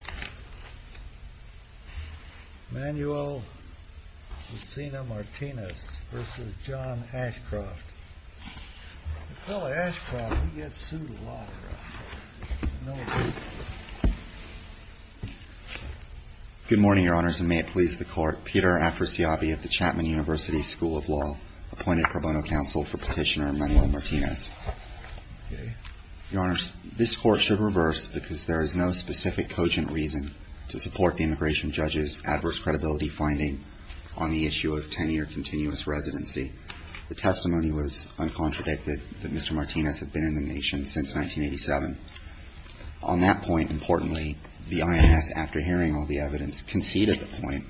Good morning, Your Honors, and may it please the Court, Peter Afrasiabi of the Chapman University School of Law, appointed pro bono counsel for Petitioner Manuel Martinez. Your Honors, this Court should reverse because there is no specific cogent reason to support the immigration judge's adverse credibility finding on the issue of 10-year continuous residency. The testimony was uncontradicted that Mr. Martinez had been in the nation since 1987. On that point, importantly, the IIS, after hearing all the evidence, conceded the point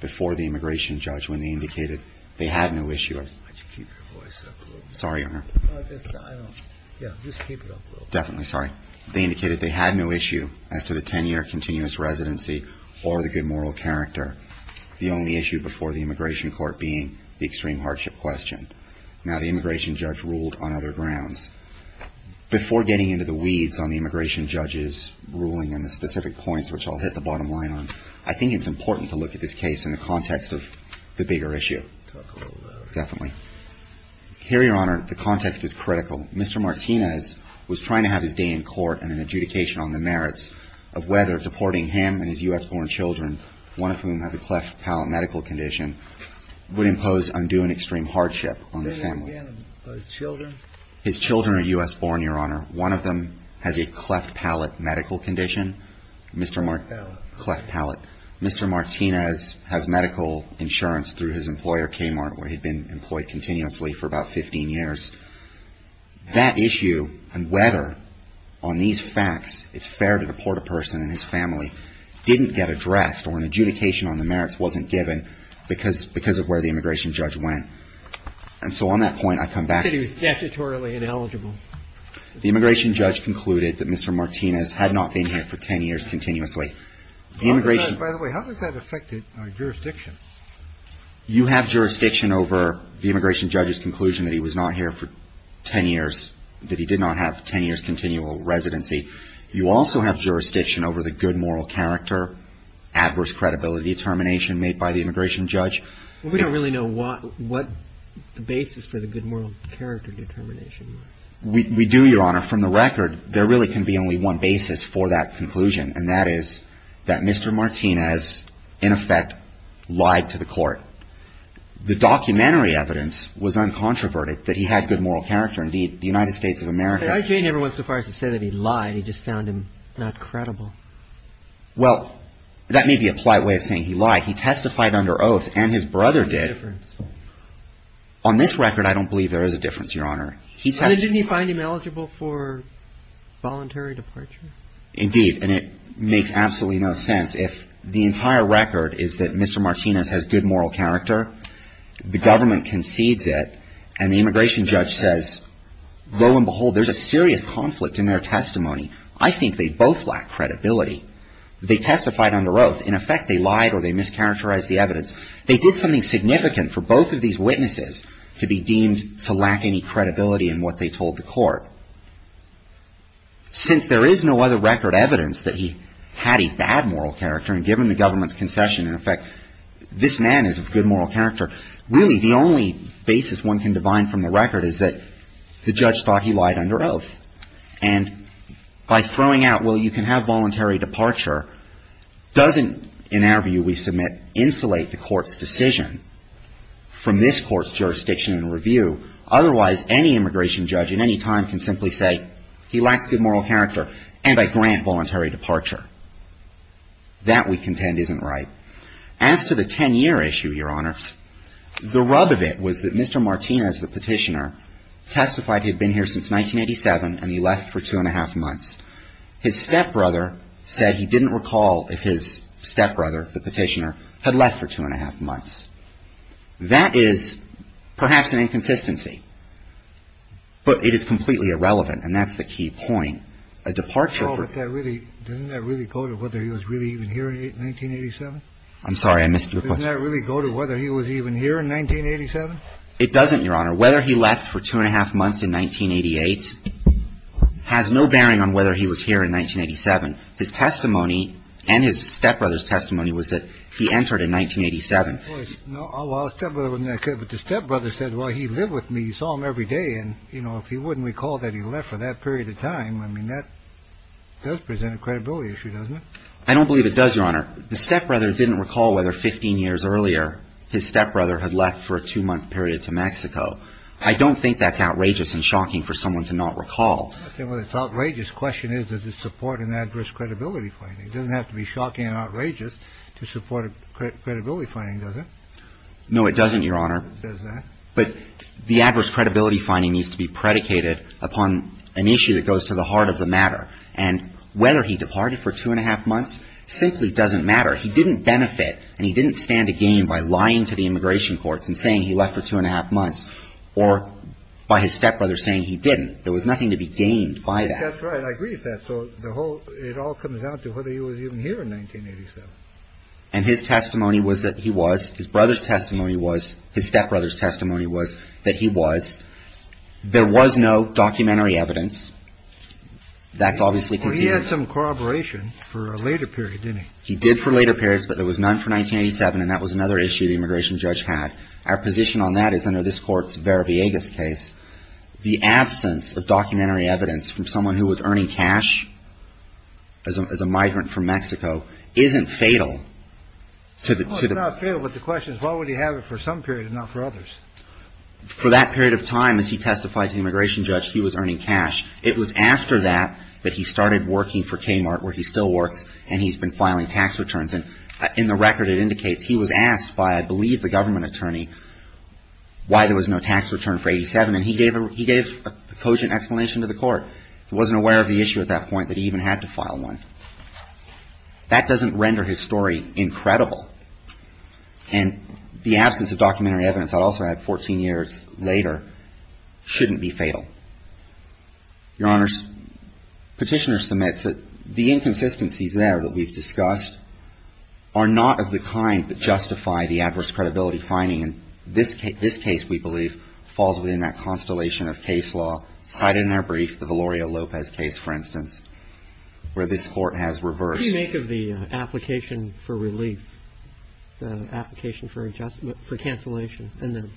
before the immigration judge when they indicated they had no issue. They indicated they had no issue as to the 10-year continuous residency or the good moral character. The only issue before the immigration court being the extreme hardship question. Now the immigration judge ruled on other grounds. Before getting into the weeds on the immigration judge's ruling and the specific points which I'll hit the bottom line on, I think it's important to look at this case in the context of the bigger issue. Definitely. Here, Your Honor, the context is critical. Mr. Martinez was trying to have his day in court and an adjudication on the merits of whether deporting him and his U.S.-born children, one of whom has a cleft palate medical condition, would impose undue and extreme hardship on the family. His children? His children are U.S.-born, Your Honor. One of them has a cleft palate medical condition. Mr. Martinez has medical insurance through his employer, Kmart, where he'd been employed continuously for about 15 years. That issue and whether on these facts it's fair to deport a person and his family didn't get addressed or an adjudication on the merits wasn't given because of where the immigration judge went. And so on that point, I come back to He said he was statutorily ineligible. The immigration judge concluded that Mr. Martinez had not been here for 10 years continuously. By the way, how does that affect our jurisdiction? You have jurisdiction over the immigration judge's conclusion that he was not here for 10 years, that he did not have 10 years continual residency. You also have jurisdiction over the good moral character, adverse credibility determination made by the immigration judge. We don't really know what the basis for the good moral character determination was. We do, Your Honor. From the record, there really can be only one basis for that that Mr. Martinez in effect lied to the court. The documentary evidence was uncontroverted, that he had good moral character. Indeed, the United States of America I actually never went so far as to say that he lied. He just found him not credible. Well, that may be a plight way of saying he lied. He testified under oath and his brother did. On this record, I don't believe there is a difference, Your Honor. He said he didn't find him eligible for voluntary departure. Indeed, and it makes absolutely no sense. If the entire record is that Mr. Martinez has good moral character, the government concedes it and the immigration judge says, lo and behold, there's a serious conflict in their testimony. I think they both lack credibility. They testified under oath. In effect, they lied or they mischaracterized the evidence. They did something significant for both of these witnesses to be deemed to lack any credibility in what they told the court. Since there is no other record evidence that he had a bad moral character and given the government's concession, in effect, this man is of good moral character. Really, the only basis one can divine from the record is that the judge thought he lied under oath. And by throwing out, well, you can have voluntary departure, doesn't, in our view, we submit, insulate the court's decision from this court's jurisdiction and review. Otherwise, any immigration judge in any time can simply say he lacks good moral character and I grant voluntary departure. That, we contend, isn't right. As to the 10-year issue, Your Honors, the rub of it was that Mr. Martinez, the petitioner, testified he had been here since 1987 and he left for two and a half months. His stepbrother said he didn't recall if his stepbrother, the petitioner, had left for two and a half months. That is perhaps an inconsistency, but it is completely irrelevant. And that's the key point. A departure. Oh, but doesn't that really go to whether he was really even here in 1987? I'm sorry, I missed your question. Doesn't that really go to whether he was even here in 1987? It doesn't, Your Honor. Whether he left for two and a half months in 1988 has no bearing on whether he was here in 1987. His testimony and his stepbrother's testimony was that he entered in 1987. No, well, the stepbrother said, well, he lived with me, he saw him every day. And, you know, if he wouldn't recall that he left for that period of time, I mean, that does present a credibility issue, doesn't it? I don't believe it does, Your Honor. The stepbrother didn't recall whether 15 years earlier his stepbrother had left for a two-month period to Mexico. I don't think that's outrageous and shocking for someone to not recall. Well, it's outrageous. The question is, does it support an adverse credibility finding? It doesn't have to be shocking and outrageous to support a credibility finding, does it? No, it doesn't, Your Honor. But the adverse credibility finding needs to be predicated upon an issue that goes to the heart of the matter. And whether he departed for two and a half months simply doesn't matter. He didn't benefit and he didn't stand to gain by lying to the immigration courts and saying he left for two and a half months or by his stepbrother saying he didn't. There was nothing to be gained by that. That's right. I agree with that. So the whole it all comes down to whether he was even here in 1987 and his testimony was that he was his brother's testimony was his stepbrother's testimony was that he was there was no documentary evidence. That's obviously because he had some corroboration for a later period, didn't he? He did for later periods, but there was none for 1987. And that was another issue the immigration judge had. Our position on that is under this court's Vera Villegas case, the absence of cash as a migrant from Mexico isn't fatal to the field. But the question is, why would he have it for some period, not for others? For that period of time, as he testified to the immigration judge, he was earning cash. It was after that that he started working for Kmart where he still works and he's been filing tax returns. And in the record, it indicates he was asked by, I believe, the government attorney why there was no tax return for 87. And he gave he gave a cogent explanation to the court. He wasn't aware of the issue at that point that he even had to file one. That doesn't render his story incredible. And the absence of documentary evidence, I'd also add 14 years later, shouldn't be fatal. Your Honor's petitioner submits that the inconsistencies there that we've discussed are not of the kind that justify the adverse credibility finding. And this case, we believe, falls within that constellation of case law cited in our brief, the Valerio Lopez case, for instance, where this court has reversed. What do you make of the application for relief, the application for adjustment, for cancellation and the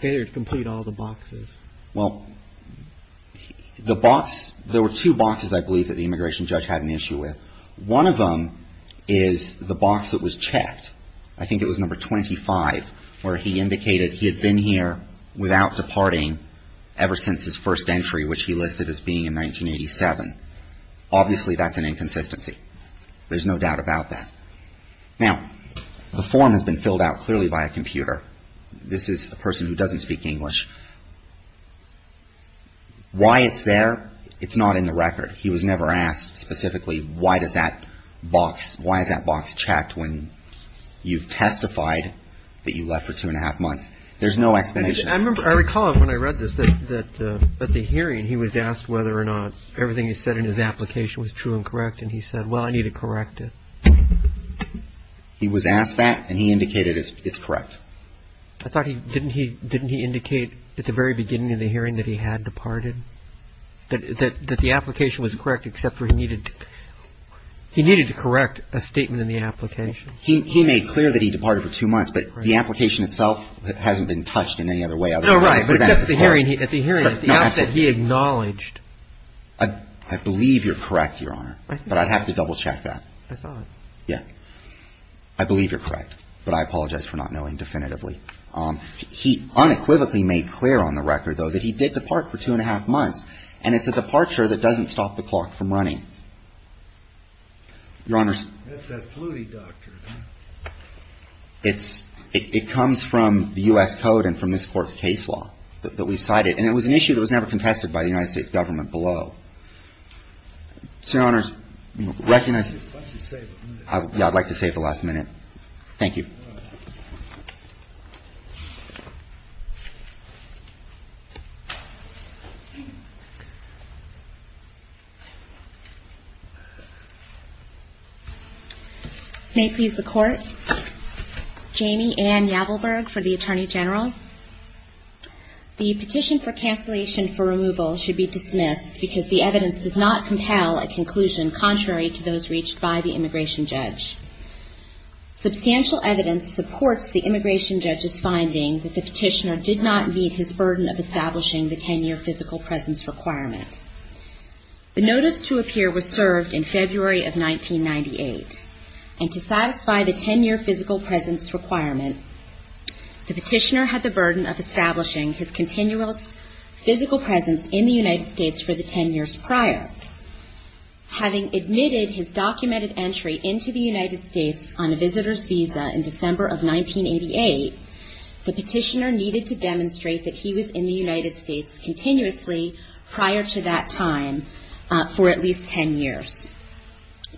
failure to complete all the boxes? Well, the box, there were two boxes, I believe, that the immigration judge had an issue with. One of them is the box that was checked. I think it was number 25 where he indicated he had been here without departing ever since his first entry, which he listed as being in 1987. Obviously, that's an inconsistency. There's no doubt about that. Now, the form has been filled out clearly by a computer. This is a person who doesn't speak English. Why it's there, it's not in the record. He was never asked specifically, why does that box, why is that box checked when you've testified that you left for two and a half months? There's no explanation. I remember, I recall when I read this, that at the hearing, he was asked whether or not everything he said in his application was true and correct. And he said, well, I need to correct it. He was asked that and he indicated it's correct. I thought he, didn't he, didn't he indicate at the very beginning of the hearing that he had departed, that the application was correct, except for he needed, he needed to correct a statement in the application. He made clear that he departed for two months, but the application itself hasn't been touched in any other way. No, right. But at the hearing, at the hearing, at the outset, he acknowledged. I believe you're correct, Your Honor, but I'd have to double check that. I thought, yeah. I believe you're correct, but I apologize for not knowing definitively. Um, he unequivocally made clear on the record though, that he did depart for two and a half months. And it's a departure that doesn't stop the clock from running. Your Honor, it's, it comes from the U S code and from this court's case law that we've cited, and it was an issue that was never contested by the United States government below. So Your Honor, recognize, I'd like to save the last minute. Thank you. May it please the court. Jamie Ann Yavelberg for the attorney general. The petition for cancellation for removal should be dismissed because the evidence does not compel a conclusion contrary to those reached by the immigration judge. Substantial evidence supports the immigration judge's finding that the petitioner did not meet his burden of establishing the 10 year physical The notice to appear was submitted to the immigration judge in the And to satisfy the 10 year physical presence requirement, the petitioner had the burden of establishing his continual physical presence in the United States for the 10 years prior, having admitted his documented entry into the United States on a visitor's visa in December of 1988, the petitioner needed to demonstrate that he was in the United States continuously prior to that time, for at least 10 years,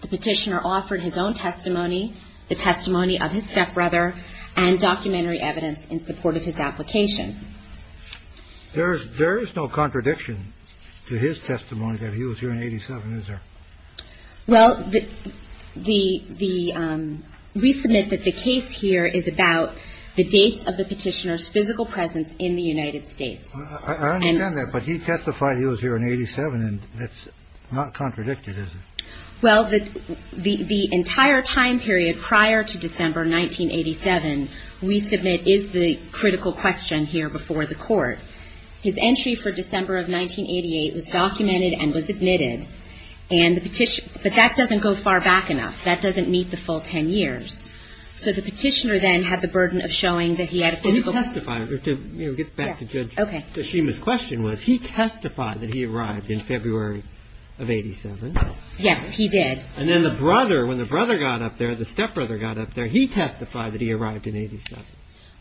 the petitioner offered his own testimony, the testimony of his stepbrother and documentary evidence in support of his application. There's there is no contradiction to his testimony that he was here in 87. Well, the the the we submit that the case here is about the dates of the petitioner's physical presence in the United States. I understand that, but he testified he was here in 87 and that's not contradicted. Well, the the the entire time period prior to December 1987, we submit is the critical question here before the court. His entry for December of 1988 was documented and was admitted. And the petition, but that doesn't go far back enough. That doesn't meet the full 10 years. So the petitioner then had the burden of showing that he had to testify to get back OK, so she was question was he testified that he arrived in February of 87? Yes, he did. And then the brother when the brother got up there, the stepbrother got up there. He testified that he arrived in 87.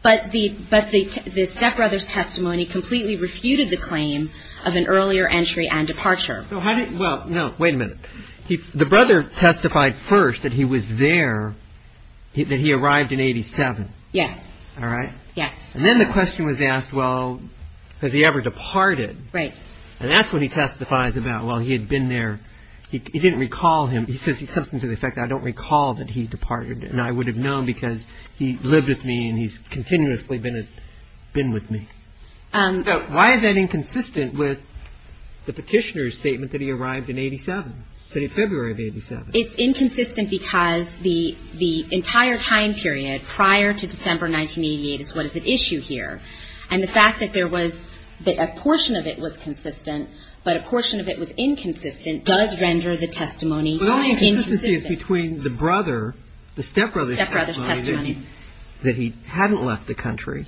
But the but the stepbrother's testimony completely refuted the claim of an earlier entry and departure. So how did. Well, no. Wait a minute. The brother testified first that he was there, that he arrived in 87. Yes. All right. Yes. And then the question was asked. Well, has he ever departed? Right. And that's what he testifies about. Well, he had been there. He didn't recall him. He says something to the effect. I don't recall that he departed. And I would have known because he lived with me and he's continuously been been with me. So why is that inconsistent with the petitioner's statement that he arrived in 87, that in February of 87? It's inconsistent because the the entire time period prior to December 1988 is what is at issue here. And the fact that there was a portion of it was consistent, but a portion of it was inconsistent does render the testimony. Well, the inconsistency is between the brother, the stepbrother's testimony that he hadn't left the country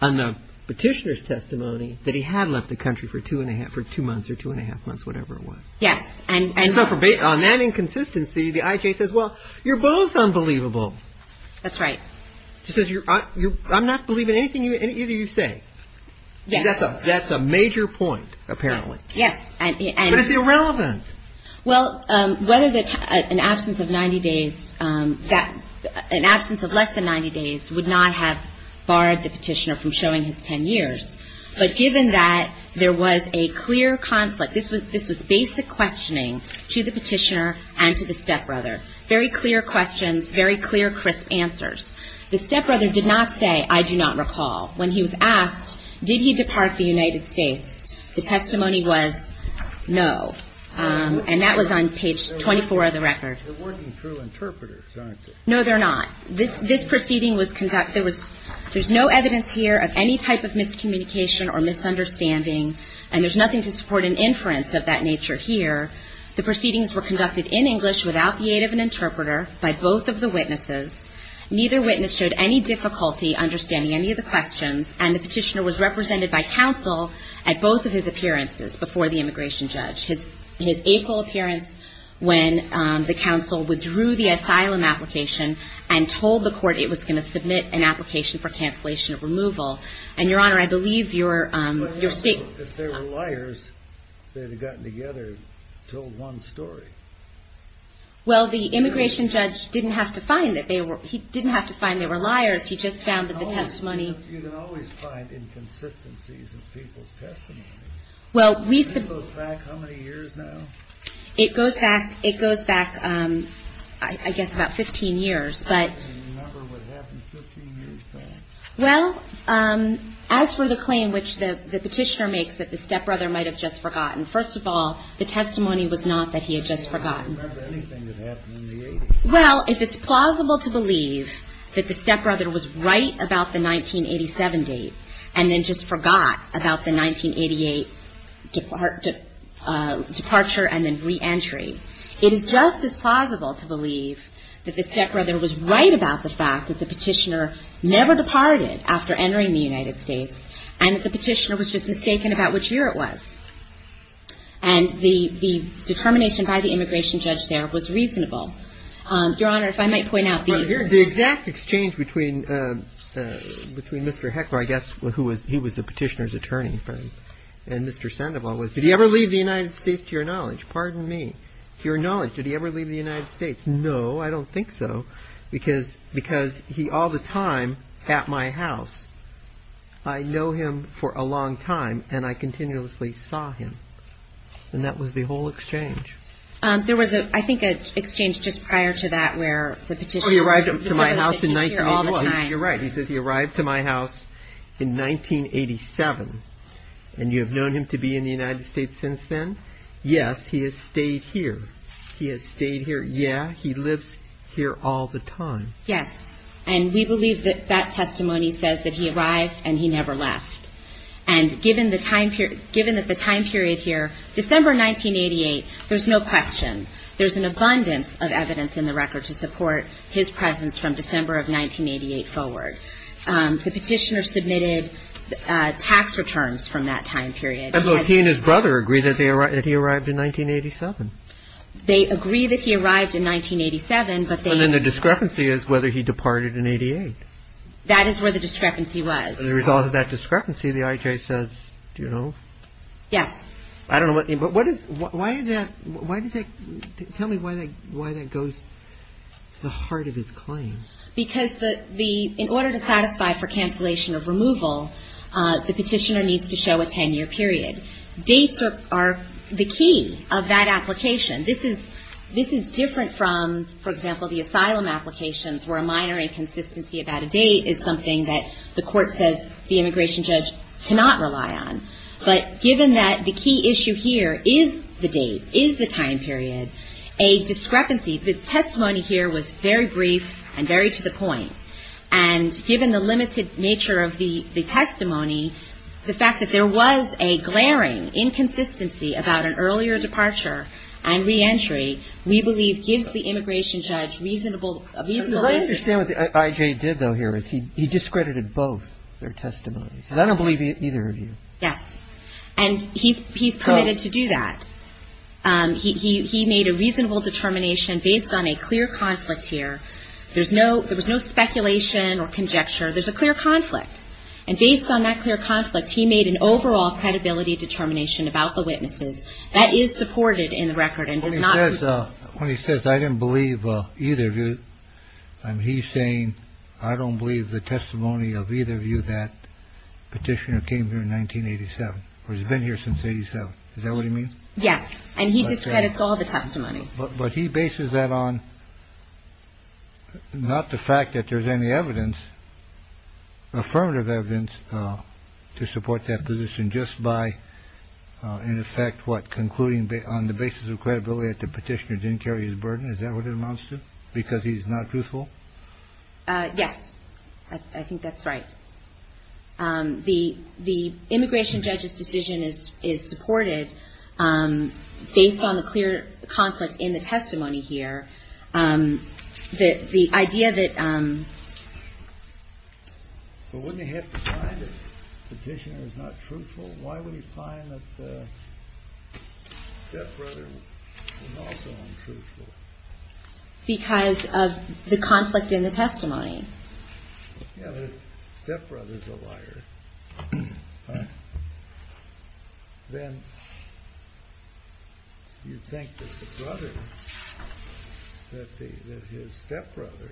and the petitioner's testimony that he had left the country for two and a half or two months or two and a half months, whatever it was. Yes. And so on that inconsistency, the IJ says, well, you're both unbelievable. That's right. She says, I'm not believing anything. Either you say that's a that's a major point, apparently. Yes. And it's irrelevant. Well, whether that's an absence of 90 days, that an absence of less than 90 days would not have barred the petitioner from showing his 10 years. But given that there was a clear conflict, this was this was basic questioning to the petitioner and to the stepbrother. Very clear questions, very clear, crisp answers. The stepbrother did not say, I do not recall when he was asked, did he depart the United States? The testimony was no. And that was on page 24 of the record. They're working through interpreters, aren't they? No, they're not. This this proceeding was conducted. There was there's no evidence here of any type of miscommunication or misunderstanding. And there's nothing to support an inference of that nature here. The proceedings were conducted in English without the aid of an interpreter by both of the witnesses. Neither witness showed any difficulty understanding any of the questions. And the petitioner was represented by counsel at both of his appearances before the immigration judge. His his April appearance when the counsel withdrew the asylum application and told the court it was going to submit an application for cancellation of removal. And Your Honor, I believe you're you're saying that there were liars that had gotten together, told one story. Well, the immigration judge didn't have to find that they were he didn't have to find they were liars. He just found that the testimony. You can always find inconsistencies in people's testimony. Well, we suppose back how many years now? It goes back. It goes back, I guess, about 15 years. But remember what happened 15 years ago. Well, as for the claim, which the petitioner makes that the stepbrother might have just forgot. Well, if it's plausible to believe that the stepbrother was right about the 1987 date and then just forgot about the 1988 departure and then reentry, it is just as plausible to believe that the stepbrother was right about the fact that the petitioner never departed after entering the United States and that the petitioner was just mistaken about which year it was. And the the determination by the immigration judge there was reasonable. Your Honor, if I might point out the exact exchange between between Mr. Heckler, I guess, who was he was the petitioner's attorney and Mr. Sandoval. Did he ever leave the United States, to your knowledge? Pardon me. To your knowledge, did he ever leave the United States? No, I don't think so, because because he all the time at my house, I know him for a long time and I continuously saw him. And that was the whole exchange. There was, I think, an exchange just prior to that where the petitioner arrived at my house in 1981. You're right. He says he arrived to my house in 1987 and you have known him to be in the United States since then. Yes, he has stayed here. He has stayed here. Yeah, he lives here all the time. Yes. And we believe that that testimony says that he arrived and he never left. And given the time period, given that the time period here, December 1988, there's no question there's an abundance of evidence in the record to support his presence from December of 1988 forward. The petitioner submitted tax returns from that time period. And both he and his brother agree that he arrived in 1987. They agree that he arrived in 1987, but then the discrepancy is whether he departed in 88. That is where the discrepancy was. As a result of that discrepancy, the IJ says, do you know? Yes. I don't know what. But what is why is that? Why does it tell me why? Why that goes to the heart of his claim? Because the in order to satisfy for cancellation of removal, the petitioner needs to show a 10 year period. Dates are the key of that application. This is this is different from, for example, the asylum applications where a minor inconsistency about a date is something that the court says the immigration judge cannot rely on. But given that the key issue here is the date, is the time period, a discrepancy. The testimony here was very brief and very to the point. And given the limited nature of the testimony, the fact that there was a glaring inconsistency about an earlier departure and reentry, we believe gives the immigration judge reasonable reason. I understand what the IJ did, though, here is he he discredited both their testimonies. I don't believe either of you. Yes. And he's he's permitted to do that. He he made a reasonable determination based on a clear conflict here. There's no there was no speculation or conjecture. There's a clear conflict. And based on that clear conflict, he made an overall credibility determination about the witnesses that is supported in the record. And when he says I didn't believe either of you, I'm he's saying I don't believe the testimony of either of you that petitioner came here in 1987 or has been here since 87. Is that what you mean? Yes. And he discredits all the testimony. But he bases that on. Not the fact that there's any evidence. Affirmative evidence to support that position just by, in effect, what concluding on the basis of credibility at the petitioner didn't carry his burden. Is that what it amounts to? Because he's not truthful. Yes, I think that's right. The the immigration judge's decision is is supported based on the clear conflict in the testimony here, the idea that. So when you have a petitioner is not truthful, why would he find that? That brother was also untruthful because of the conflict in the testimony. Yeah. Stepbrother's a liar. Then. You think that the brother, that his stepbrother.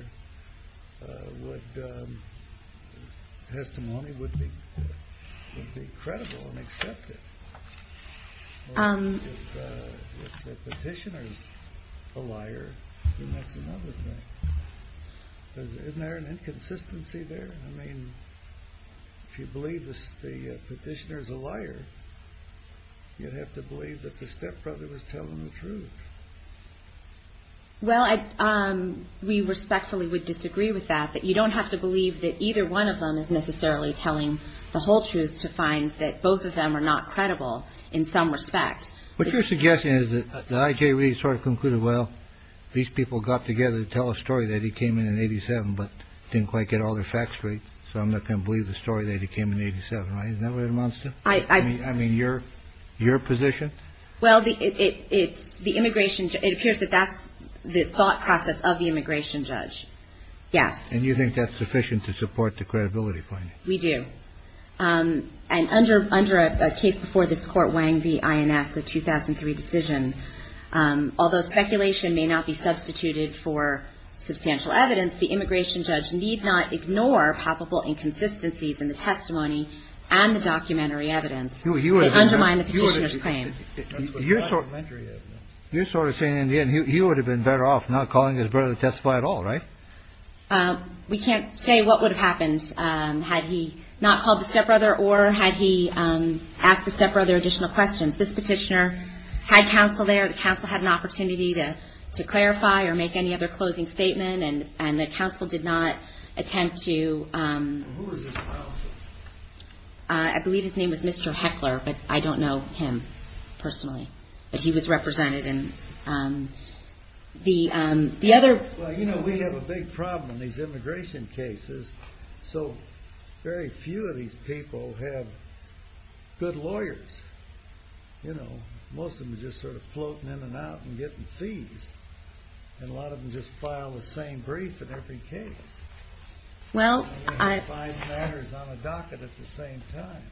Would. Testimony would be would be credible and accepted. And if the petitioner is a liar, then that's another thing. Isn't there an inconsistency there? I mean, if you believe this, the petitioner is a liar. You'd have to believe that the stepbrother was telling the truth. Well, we respectfully would disagree with that, that you don't have to believe that either one of them is necessarily telling the whole truth to find that both of them are not credible in some respect. What you're suggesting is that the IJ really sort of concluded, well, these people got together to tell a story that he came in in 87, but didn't quite get all the facts straight. So I'm not going to believe the story that he came in 87, right? Isn't that what it amounts to? I mean, I mean, you're your position. Well, it's the immigration. It appears that that's the thought process of the immigration judge. Yes. And you think that's sufficient to support the credibility? We do. And under under a case before this court, Wang, the INS, the 2003 decision, although speculation may not be substituted for substantial evidence, the immigration judge need not ignore probable inconsistencies in the testimony and the documentary evidence. You would undermine the petitioner's claim. You're sort of saying in the end you would have been better off not calling his brother to testify at all. Right. We can't say what would have happened had he not called the stepbrother or had he asked the stepbrother additional questions. This petitioner had counsel there. The counsel had an opportunity to to clarify or make any other closing statement. And and the counsel did not attempt to. I believe his name was Mr. Heckler, but I don't know him personally, but he was represented in the the other. Well, you know, we have a big problem in these immigration cases. So very few of these people have good lawyers. You know, most of them are just sort of floating in and out and getting fees. And a lot of them just file the same brief in every case. Well, I find matters on the docket at the same time.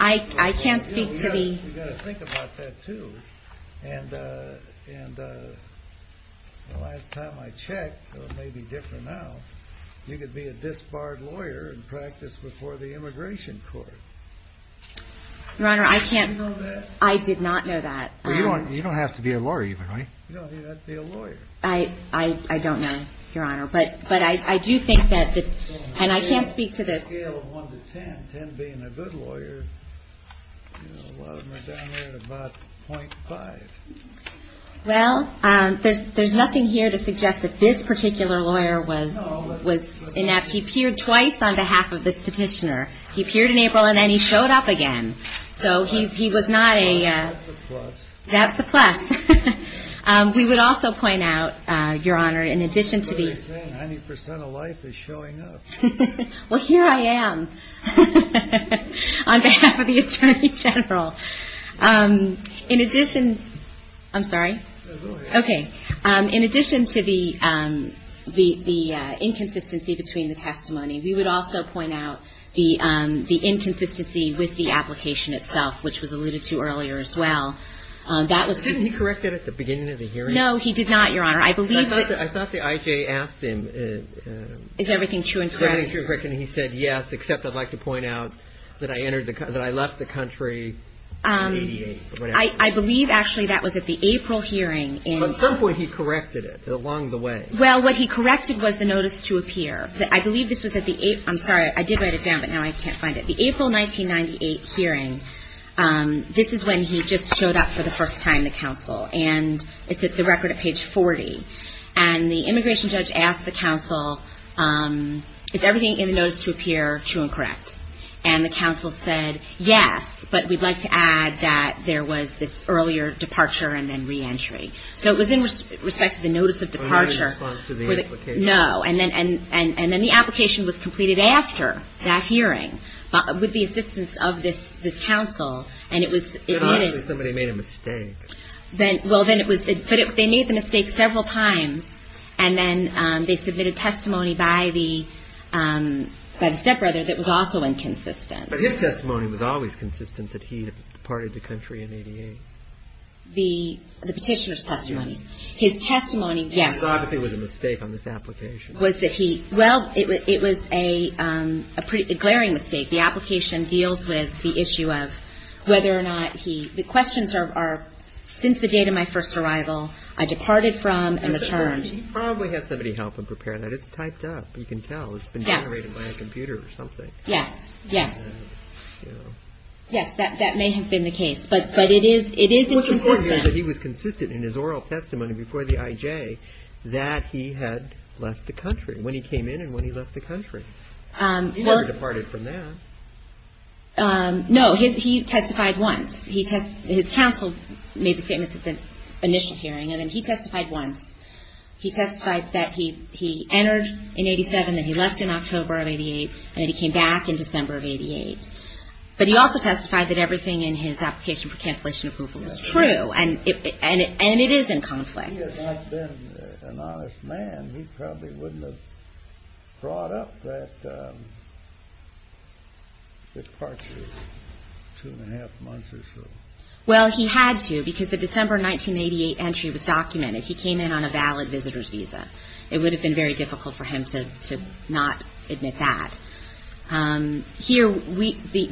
I can't speak to the. You got to think about that, too. And and the last time I checked, it may be different now. You could be a disbarred lawyer and practice before the immigration court. Your Honor, I can't. I did not know that. You don't have to be a lawyer. You know, I don't know, Your Honor, but but I do think that and I can't speak to the scale of one to ten, ten being a good lawyer. A lot of them are down there at about point five. Well, there's there's nothing here to suggest that this particular lawyer was was enough. He appeared twice on behalf of this petitioner. He appeared in April and then he showed up again. So he was not a. That's the fact we would also point out, Your Honor, in addition to the 90 percent of life is showing up. Well, here I am on behalf of the attorney general. In addition. I'm sorry. OK. In addition to the the the inconsistency between the testimony, we would also point out the the inconsistency with the application itself, which was alluded to earlier as well. That was corrected at the beginning of the hearing. No, he did not. Your Honor, I believe that I thought the I.J. asked him, is everything true? And he said, yes, except I'd like to point out that I entered that I left the country. I believe actually that was at the April hearing. And at some point he corrected it along the way. Well, what he corrected was the notice to appear. I believe this was at the I'm sorry. I did write it down, but now I can't find it. The April 1998 hearing. This is when he just showed up for the first time, the counsel. And it's at the record at page 40. And the immigration judge asked the counsel, is everything in the notice to appear true and correct? And the counsel said, yes, but we'd like to add that there was this earlier departure and then reentry. So it was in respect to the notice of departure. No. And then and and then the application was completed after that hearing. With the assistance of this this counsel and it was somebody made a mistake then. Well, then it was they made the mistake several times and then they submitted testimony by the by the stepbrother. That was also inconsistent. But his testimony was always consistent that he departed the country in 88. The petitioner's testimony, his testimony. Yes. Obviously was a mistake on this application. Was that he. Well, it was a glaring mistake. The application deals with the issue of whether or not he. The questions are since the date of my first arrival, I departed from and returned. He probably had somebody help him prepare that. It's typed up. You can tell it's been generated by a computer or something. Yes. Yes. Yes. That that may have been the case. But but it is it is important that he was consistent in his oral testimony before the I.J. that he had left the country when he came in and when he left the country. He departed from that. No, he testified once. He has his counsel made statements at the initial hearing and then he testified once. He testified that he he entered in 87 that he left in October of 88 and he came back in December of 88. But he also testified that everything in his application for cancellation approval is true. And it and it and it is in conflict. There has been an honest man. He probably wouldn't have brought up that. It's part two and a half months or so. Well, he had to because the December 1988 entry was documented. He came in on a valid visitor's visa. It would have been very difficult for him to to not admit that. Here we the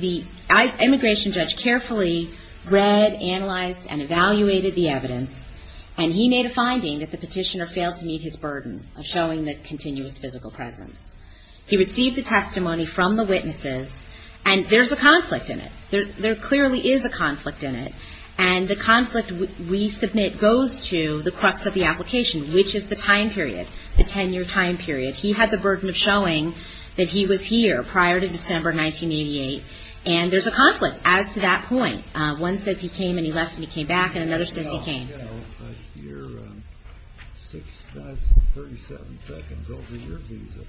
the immigration judge carefully read, analyzed and evaluated the evidence. And he made a finding that the petitioner failed to meet his burden of showing that continuous physical presence. He received the testimony from the witnesses. And there's a conflict in it. There there clearly is a conflict in it. And the conflict we submit goes to the crux of the application, which is the time period, the 10 year time period. He had the burden of showing that he was here prior to December 1988. And there's a conflict as to that point. One says he came and he left and he came back. And another says he came. You're six thirty seven seconds over your visa.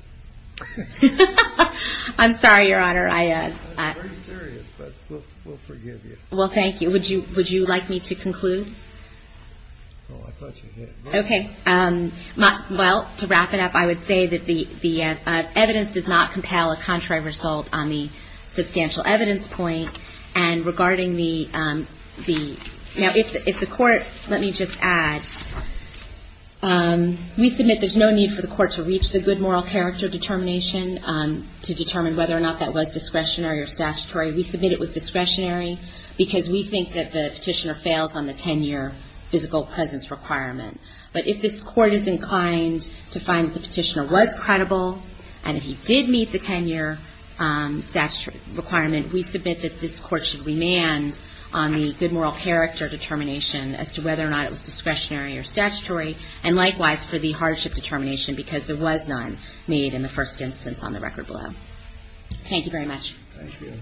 I'm sorry, Your Honor. I am very serious. But we'll forgive you. Well, thank you. Would you would you like me to conclude? Oh, I thought you did. OK. Well, to wrap it up, I would say that the the evidence does not compel a contrary result on the substantial evidence point. And regarding the the now, if the court let me just add. We submit there's no need for the court to reach the good moral character determination to determine whether or not that was discretionary or statutory. We submit it with discretionary because we think that the petitioner fails on the 10 year physical presence requirement. But if this court is inclined to find the petitioner was credible and if he did meet the 10 year statutory requirement, we submit that this court should remand on the good moral character determination as to whether or not it was discretionary or statutory. And likewise, for the hardship determination, because there was none made in the first instance on the record below. Thank you very much. Thank you.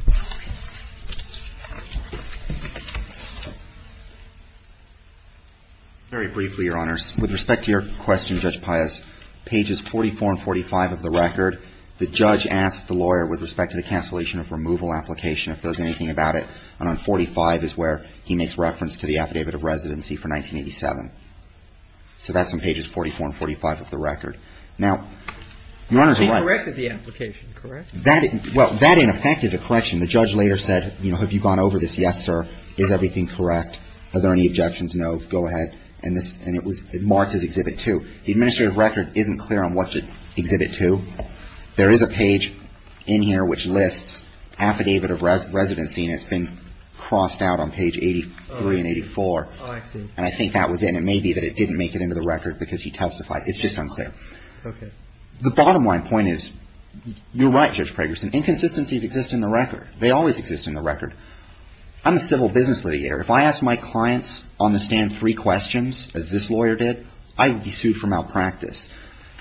Very briefly, Your Honor, with respect to your question, Judge Pius, pages 44 and 45 of the record, the judge asked the lawyer with respect to the cancellation of removal application, if there was anything about it, and on 45 is where he makes reference to the affidavit of residency for 1987. So that's on pages 44 and 45 of the record. Now, Your Honor's right. He corrected the application, correct? That, well, that in effect is a correction. The judge later said, you know, have you gone over this? Yes, sir. Is everything correct? Are there any objections? No. Go ahead. And this, and it was marked as Exhibit 2. The administrative record isn't clear on what's at Exhibit 2. There is a page in here which lists affidavit of residency, and it's been crossed out on page 83 and 84. And I think that was in. It may be that it didn't make it into the record because he testified. It's just unclear. Okay. The bottom line point is you're right, Judge Pragerson. Inconsistencies exist in the record. They always exist in the record. I'm a civil business litigator. If I asked my clients on the stand three questions, as this lawyer did, I would be sued for malpractice.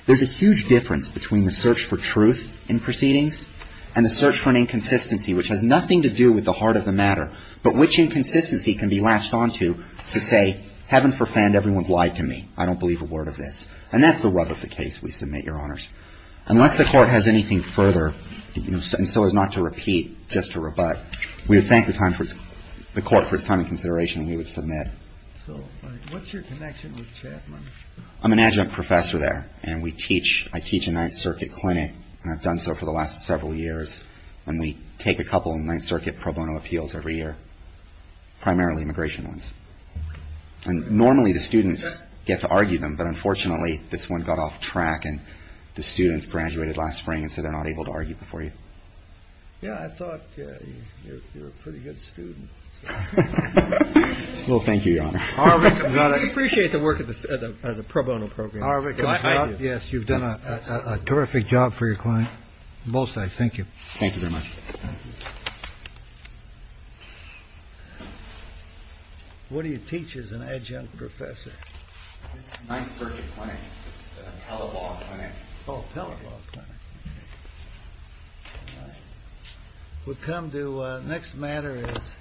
There's a huge difference between the search for truth in proceedings and the search for an inconsistency, which has nothing to do with the heart of the matter, but which inconsistency can be latched onto to say, heaven forfend, everyone's lied to me. I don't believe a word of this. And that's the rub of the case, we submit, Your Honors. Unless the court has anything further, and so as not to repeat, just to rebut, we would thank the court for its time and consideration, and we would submit. So what's your connection with Chapman? I'm an adjunct professor there, and I teach in Ninth Circuit Clinic, and I've done so for the last several years. And we take a couple of Ninth Circuit pro bono appeals every year, primarily immigration ones. And normally the students get to argue them. But unfortunately, this one got off track and the students graduated last spring. And so they're not able to argue before you. Yeah, I thought you were a pretty good student. Well, thank you, Your Honor. Appreciate the work of the pro bono program. Yes, you've done a terrific job for your client. Both sides. Thank you. Thank you very much. Thank you. What do you teach as an adjunct professor? Ninth Circuit Clinic, Pellet Law Clinic. Oh, Pellet Law Clinic. We'll come to the next matter is.